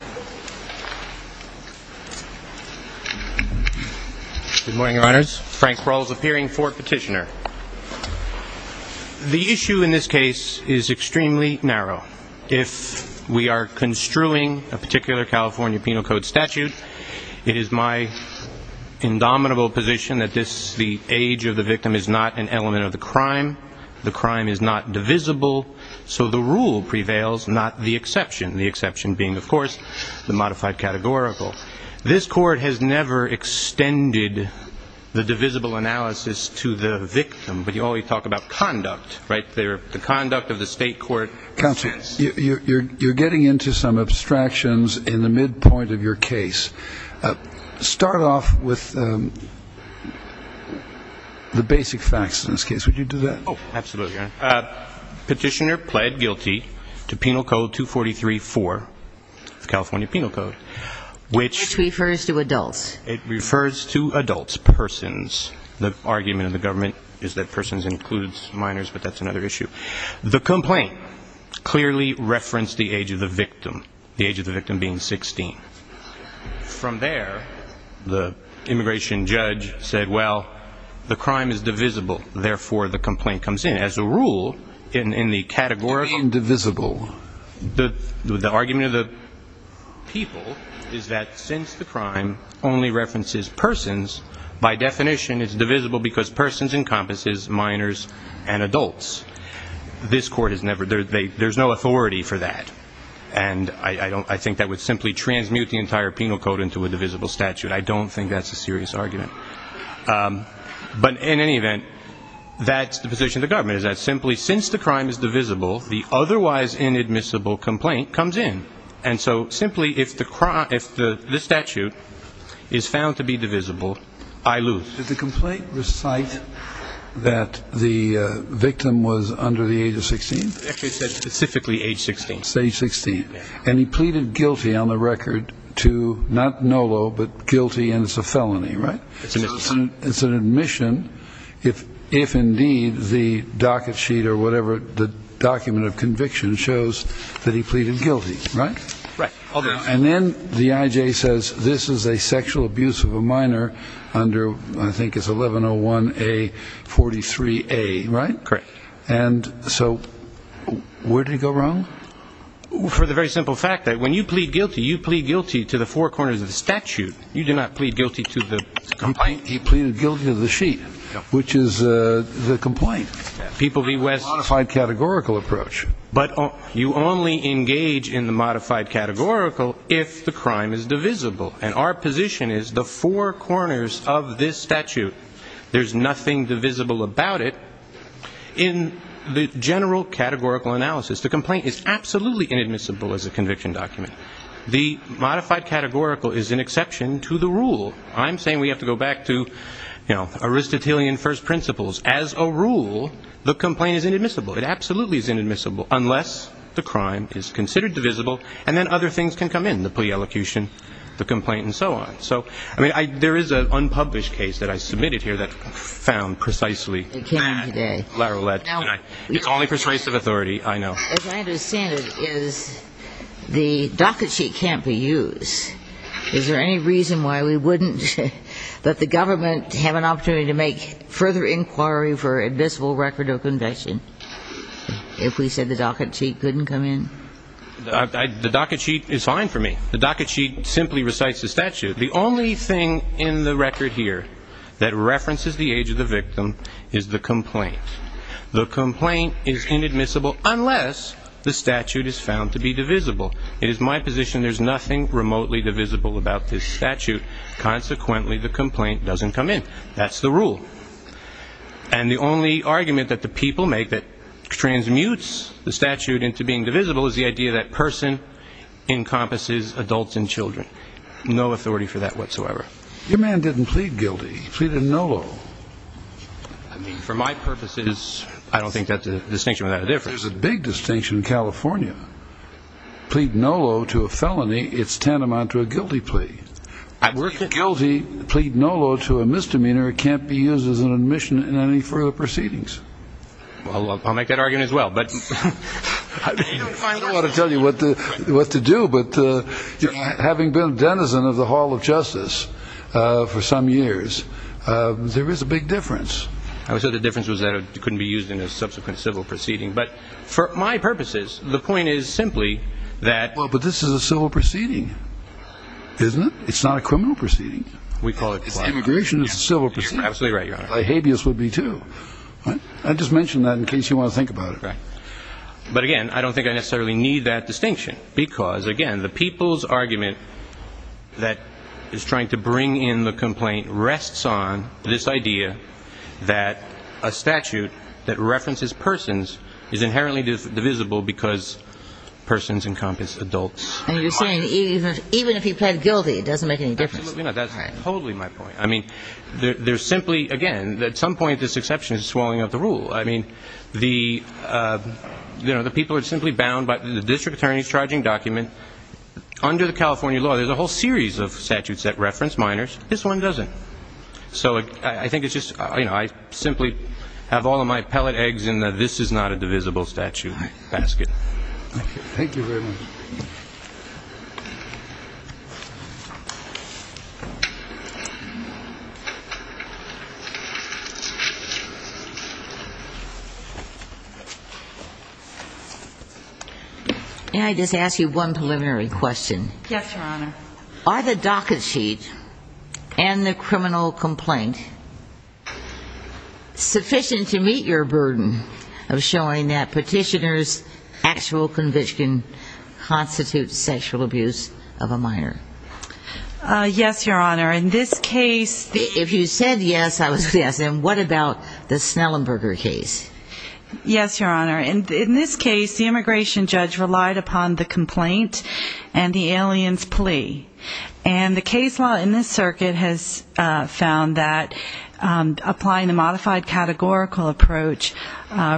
Good morning, your honors. Frank Rawls appearing for petitioner. The issue in this case is extremely narrow. If we are construing a particular California Penal Code statute, it is my indomitable position that the age of the victim is not an element of the crime, the crime is not the modified categorical. This court has never extended the divisible analysis to the victim, but you always talk about conduct, right? The conduct of the state court. Counsel, you're getting into some abstractions in the midpoint of your case. Start off with the basic facts in this case, would you do that? Oh, absolutely, your honor. Petitioner pled guilty to Penal Code 243-4, California Penal Code, which refers to adults. It refers to adults, persons. The argument of the government is that persons includes minors, but that's another issue. The complaint clearly referenced the age of the victim, the age of the victim being 16. From there, the immigration judge said, well, the crime is divisible, therefore the complaint comes in. As a rule, in the categorical, the argument of the people is that since the crime only references persons, by definition it's divisible because persons encompasses minors and adults. This court has never, there's no authority for that. And I think that would simply transmute the entire Penal Code into a divisible statute. I don't think that's a serious argument. But in any event, that's the position of the government, is that simply since the crime is divisible, the otherwise inadmissible complaint comes in. And so simply if the statute is found to be divisible, I lose. Did the complaint recite that the victim was under the age of 16? It said specifically age 16. Stage 16. And he pleaded guilty on the record to not NOLO, but guilty and it's a felony, right? It's an admission if indeed the docket sheet or whatever, the document of conviction shows that he pleaded guilty, right? And then the I.J. says this is a sexual abuse of a minor under I think it's 1101A43A, right? And so where did he go wrong? For the very simple fact that when you plead guilty, you plead guilty to the four corners of the statute. You do not plead guilty to the complaint. He pleaded guilty to the sheet, which is the complaint. People be west. Modified categorical approach. But you only engage in the modified categorical if the crime is divisible. And our position is the four corners of this statute, there's nothing divisible about it. In the general categorical analysis, the complaint is absolutely inadmissible as a conviction document. The modified categorical is an exception to the rule. I'm saying we have to go back to, you know, Aristotelian first principles. As a rule, the complaint is inadmissible. It absolutely is inadmissible unless the crime is considered divisible and then other things can come in. The plea elocution, the complaint, and so on. So, I mean, there is an unpublished case that I submitted here that found precisely that. It's only persuasive authority, I know. As I understand it, is the docket sheet can't be used. Is there any reason why we wouldn't let the government have an opportunity to make further inquiry for admissible record of conviction if we said the docket sheet couldn't come in? The docket sheet is fine for me. The docket sheet simply recites the statute. The only thing in the record here that references the age of the victim is the complaint. The complaint is inadmissible unless the statute is found to be divisible. It is my position there's nothing remotely divisible about this statute. Consequently, the complaint doesn't come in. That's the rule. And the only argument that the people make that transmutes the statute into being divisible is the idea that person encompasses adults and children. No authority for that whatsoever. Your man didn't plead guilty. He pleaded no. I mean, for my purposes, I don't think that's a distinction without a difference. There's a big distinction in California. Plead no low to a felony. It's tantamount to a guilty plea guilty. Plead no low to a misdemeanor. It can't be used as an admission in any further proceedings. I'll make that argument as well. But I don't want to tell you what to do. But having been denizen of the Hall of Justice for some years, there is a big difference. So the difference was that it couldn't be used in a subsequent civil proceeding. But for my purposes, the point is simply that. Well, but this is a civil proceeding, isn't it? It's not a criminal proceeding. We call it immigration. It's a civil proceeding. Absolutely right, Your Honor. A habeas would be, too. I just mentioned that in case you want to think about it. But again, I don't think I necessarily need that distinction because, again, the people's argument that is trying to bring in the complaint rests on this idea that a statute that references persons is inherently divisible because persons encompass adults. And you're saying even if he pled guilty, it doesn't make any difference. Absolutely not. That's totally my point. I mean, there's simply, again, at some point, this exception is swallowing up the rule. I mean, the people are simply bound by the district attorney's charging document. Under the California law, there's a whole series of statutes that reference minors. This one doesn't. So I think it's just, you know, I simply have all of my pellet eggs in the this is not a divisible statute basket. Thank you very much. May I just ask you one preliminary question? Yes, Your Honor. Are the docket sheet and the criminal complaint sufficient to meet your burden of showing that petitioner's actual conviction constitutes sexual abuse of a minor? Yes, Your Honor. In this case, if you said yes, I would say yes. And what about the Snellenberger case? Yes, Your Honor. In this case, the immigration judge relied upon the complaint and the alien's plea. And the case law in this circuit has found that applying the modified categorical approach,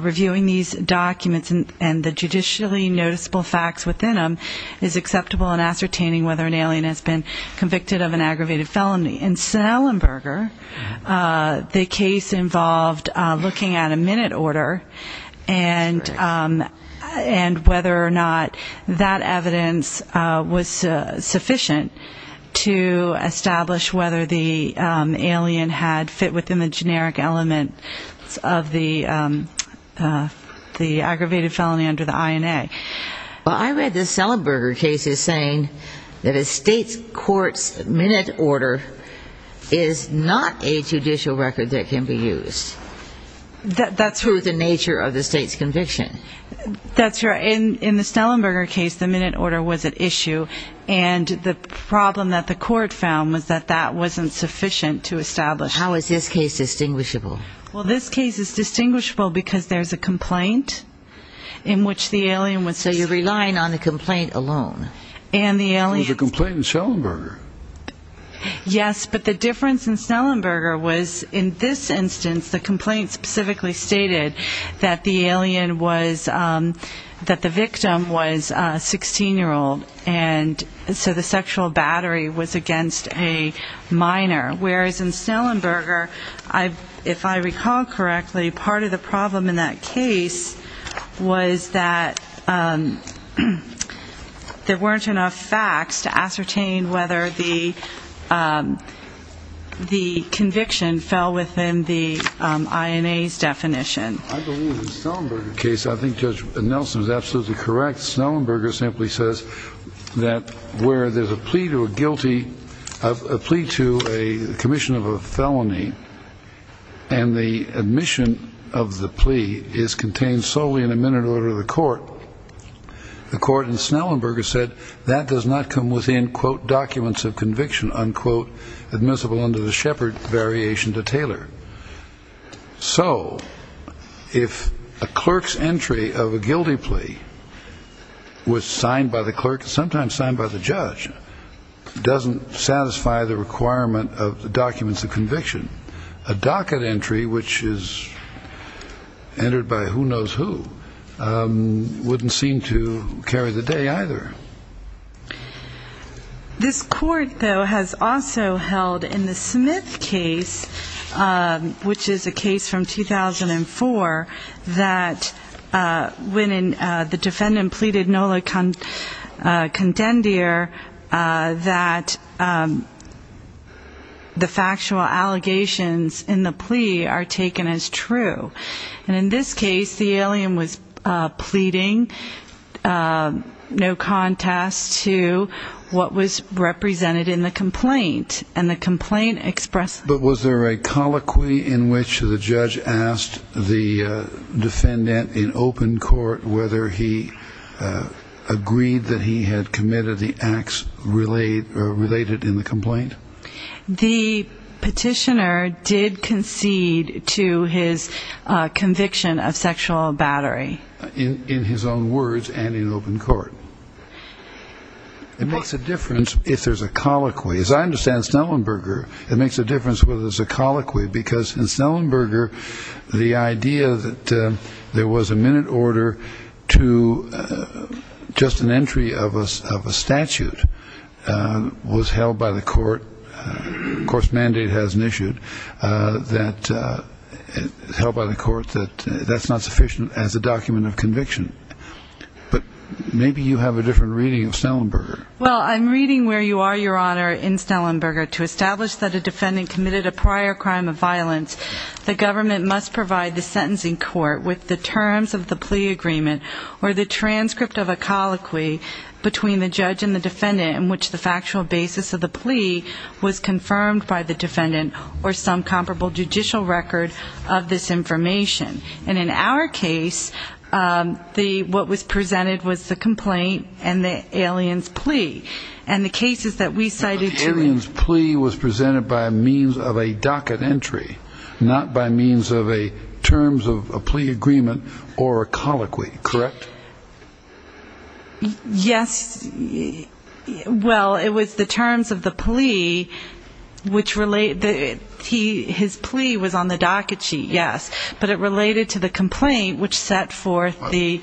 reviewing these documents and the judicially noticeable facts within them is acceptable in ascertaining whether an alien has been convicted of an aggravated felony. In Snellenberger, the case involved looking at a minute order and whether or not that evidence was sufficient to establish whether the alien had fit within the generic element of the aggravated felony under the INA. Well, I read the Snellenberger case as saying that a state court's minute order is not a judicial record that can be used. That's true of the nature of the state's conviction. That's right. In the Snellenberger case, the minute order was at issue. And the problem that the court found was that that wasn't sufficient to establish. How is this case distinguishable? Well, this case is distinguishable because there's a complaint in which the alien was. So you're relying on the complaint alone and the alien. The complaint in Snellenberger. Yes, but the difference in Snellenberger was in this instance, the complaint specifically stated that the alien was that the victim was a 16 year old. And so the sexual battery was against a minor. Whereas in Snellenberger, if I recall correctly, part of the problem in that case was that there weren't enough facts to ascertain whether the conviction fell within the INA's definition. I believe in the Snellenberger case, I think Judge Nelson is absolutely correct. Snellenberger simply says that where there's a plea to a guilty of a plea to a commission of a felony. And the admission of the plea is contained solely in a minute order of the court. The court in Snellenberger said that does not come within quote documents of conviction unquote admissible under the shepherd variation to tailor. So if a clerk's entry of a guilty plea was signed by the clerk, sometimes signed by the judge, doesn't satisfy the requirement of the documents of conviction. A docket entry, which is entered by who knows who, wouldn't seem to carry the day either. This court though has also held in the Smith case, which is a case from 2004, that when the defendant pleaded nola contendere, that the factual allegations in the plea are taken as true. And in this case, the alien was pleading no contest to what was represented in the complaint and the complaint expressed. But was there a colloquy in which the judge asked the defendant in open court whether he agreed that he had committed the acts related in the complaint? The petitioner did concede to his conviction of sexual battery in his own words and in open court. It makes a difference if there's a colloquy, as I understand Snellenberger. It makes a difference whether there's a colloquy because in Snellenberger, the idea that there was a minute order to just an entry of a statute was held by the court. Of course, mandate hasn't issued that held by the court that that's not sufficient as a document of conviction. But maybe you have a different reading of Snellenberger. Well, I'm reading where you are, Your Honor, in Snellenberger to establish that a defendant committed a prior crime of violence. The government must provide the sentencing court with the terms of the plea agreement or the transcript of a colloquy between the judge and the defendant in which the factual basis of the plea was confirmed by the defendant or some comparable judicial record of this information. And in our case, what was presented was the complaint and the alien's plea and the cases that we cited. The alien's plea was presented by means of a docket entry, not by means of a terms of a plea agreement or a colloquy, correct? Yes. Well, it was the terms of the plea which relate that he his plea was on the docket sheet. Yes. But it related to the complaint which set forth the.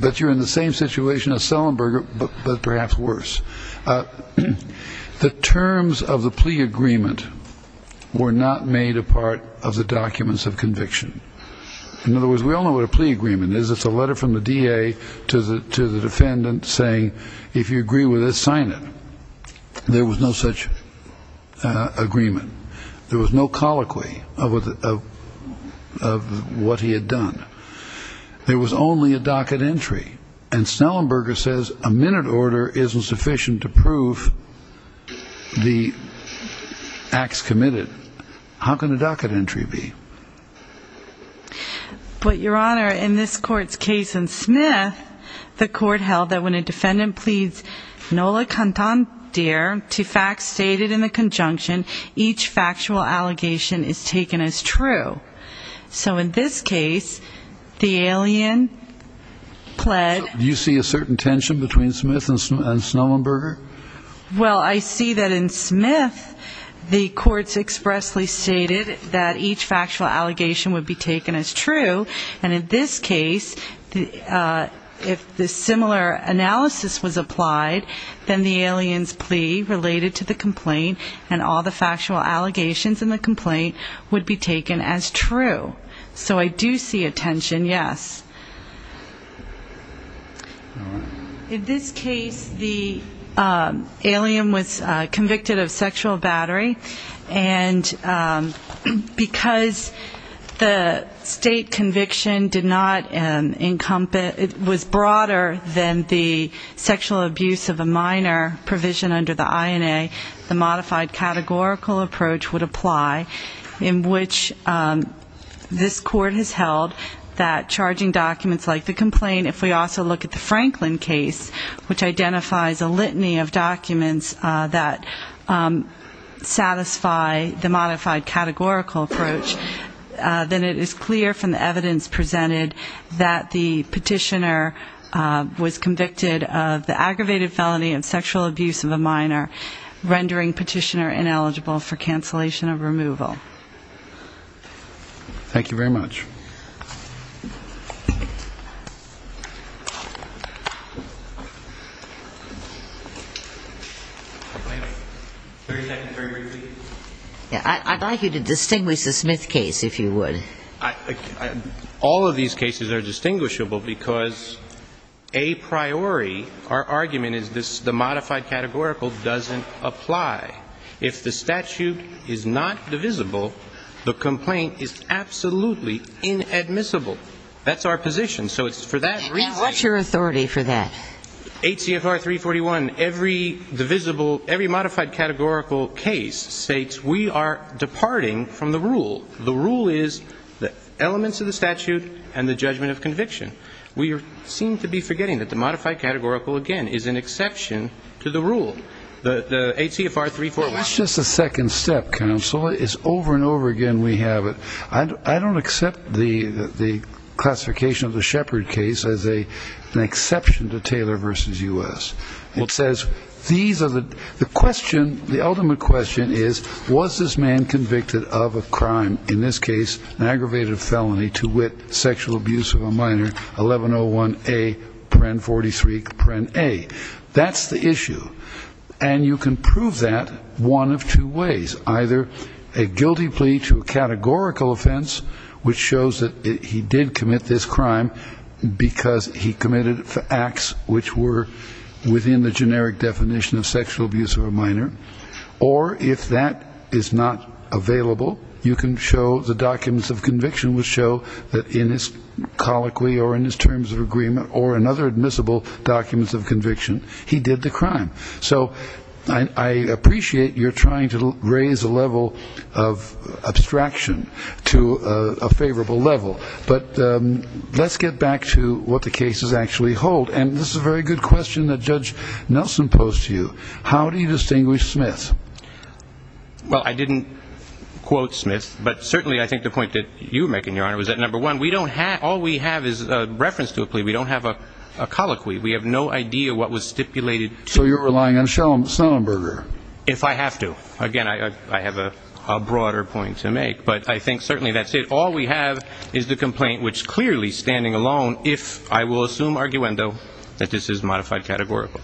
But you're in the same situation as Snellenberger, but perhaps worse. The terms of the plea agreement were not made a part of the documents of conviction. In other words, we all know what a plea agreement is. It's a letter from the D.A. to the defendant saying, if you agree with this, sign it. There was no such agreement. There was no colloquy of what he had done. There was only a docket entry. And Snellenberger says a minute order isn't sufficient to prove the acts committed. How can a docket entry be? But, Your Honor, in this court's case in Smith, the court held that when a defendant pleads nola cantandere to facts stated in the conjunction, each factual allegation is taken as true. So in this case, the alien pled. Do you see a certain tension between Smith and Snellenberger? Well, I see that in Smith, the courts expressly stated that each factual allegation would be taken as true. And in this case, if the similar analysis was applied, then the alien's plea related to the complaint and all the factual allegations in the complaint would be taken as true. So I do see a tension, yes. All right. In this case, the alien was convicted of sexual battery. And because the state conviction did not encompass, was broader than the sexual abuse of a minor provision under the INA, the modified categorical approach would apply, in which this court has held that charging documents like the complaint, if we also look at the Franklin case, which identifies a litany of documents that satisfy the modified categorical approach, then it is clear from the evidence presented that the petitioner was convicted of the aggravated felony of sexual abuse of a minor, rendering petitioner ineligible for cancellation of removal. Thank you very much. Very briefly. I'd like you to distinguish the Smith case, if you would. All of these cases are distinguishable because a priori, our argument is the modified categorical doesn't apply. If the statute is not divisible, the complaint is absolutely invalid. It's inadmissible. That's our position. What's your authority for that? HCFR 341, every modified categorical case states we are departing from the rule. The rule is the elements of the statute and the judgment of conviction. We seem to be forgetting that the modified categorical, again, is an exception to the rule. The HCFR 341. That's just a second step, counsel. It's over and over again we have it. I don't accept the classification of the Shepard case as an exception to Taylor v. U.S. The ultimate question is, was this man convicted of a crime, in this case an aggravated felony, to wit, sexual abuse of a minor, 1101A.43.A. That's the issue. And you can prove that one of two ways. Either a guilty plea to a categorical offense, which shows that he did commit this crime because he committed acts which were within the generic definition of sexual abuse of a minor. Or if that is not available, you can show the documents of conviction which show that in his colloquy or in his terms of agreement or in other admissible documents of conviction, he did the crime. So I appreciate you're trying to raise the level of abstraction to a favorable level. But let's get back to what the cases actually hold. And this is a very good question that Judge Nelson posed to you. How do you distinguish Smith? Well, I didn't quote Smith. But certainly I think the point that you're making, Your Honor, was that, number one, all we have is a reference to a plea. We don't have a colloquy. We have no idea what was stipulated. So you're relying on Schellenberger. If I have to. Again, I have a broader point to make. But I think certainly that's it. So all we have is the complaint, which clearly, standing alone, if I will assume arguendo, that this is modified categorical.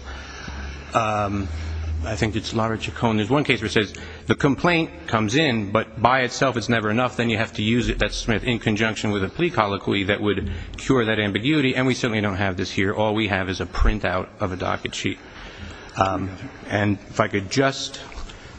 I think it's Lara Chacon. There's one case where it says the complaint comes in, but by itself it's never enough. Then you have to use it, that's Smith, in conjunction with a plea colloquy that would cure that ambiguity. And we certainly don't have this here. All we have is a printout of a docket sheet. And if I could just,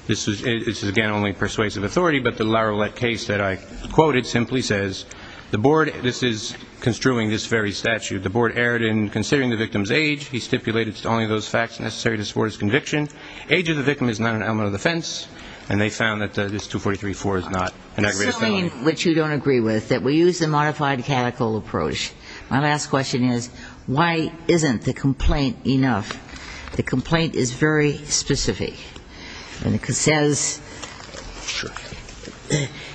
this is, again, only persuasive authority, but the Lara Lett case that I quoted simply says the board, this is construing this very statute, the board erred in considering the victim's age. He stipulated it's only those facts necessary to support his conviction. Age of the victim is not an element of defense. And they found that this 243-4 is not an aggravated felony. What you don't agree with, that we use a modified categorical approach. My last question is, why isn't the complaint enough? The complaint is very specific. And it says,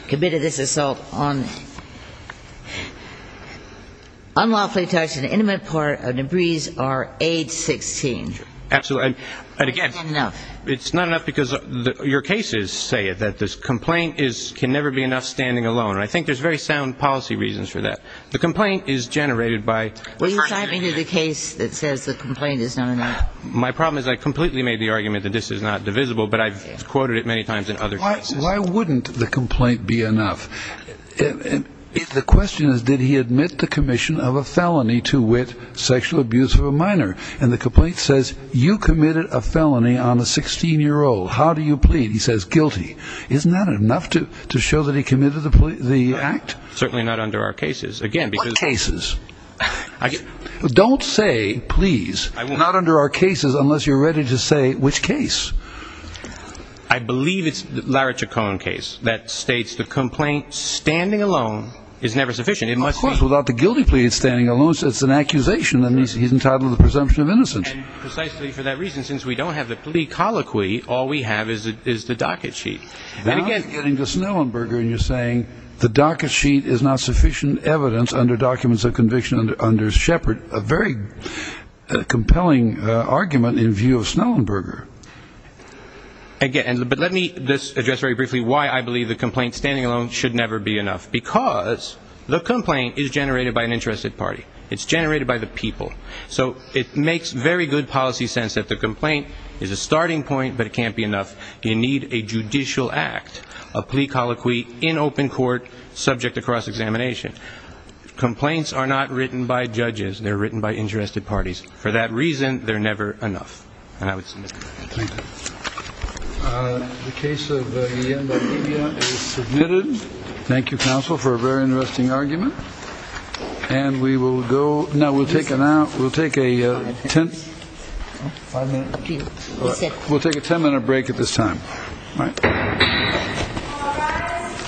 committed this assault on unlawfully touched and intimate part of Debris are age 16. Absolutely. And again, it's not enough because your cases say that this complaint can never be enough standing alone. And I think there's very sound policy reasons for that. The complaint is generated by. Well, you're talking to the case that says the complaint is not enough. My problem is I completely made the argument that this is not divisible, but I've quoted it many times in other cases. Why wouldn't the complaint be enough? The question is, did he admit the commission of a felony to wit, sexual abuse of a minor? And the complaint says, you committed a felony on a 16-year-old. How do you plead? He says, guilty. Isn't that enough to show that he committed the act? Certainly not under our cases. Again, because. What cases? Don't say please. I won't. Not under our cases unless you're ready to say which case. I believe it's Larry Chacon case that states the complaint standing alone is never sufficient. Of course, without the guilty plea it's standing alone, so it's an accusation. And he's entitled to the presumption of innocence. And precisely for that reason, since we don't have the plea colloquy, all we have is the docket sheet. Now you're getting to Snellenberger and you're saying the docket sheet is not sufficient evidence under documents of conviction under Shepard. A very compelling argument in view of Snellenberger. But let me address very briefly why I believe the complaint standing alone should never be enough. Because the complaint is generated by an interested party. It's generated by the people. So it makes very good policy sense that the complaint is a starting point, but it can't be enough. You need a judicial act, a plea colloquy in open court, subject to cross-examination. Complaints are not written by judges. They're written by interested parties. For that reason, they're never enough. And I would submit that. Thank you. The case of Ienda Media is submitted. Thank you, counsel, for a very interesting argument. We'll take a ten-minute break at this time. All right.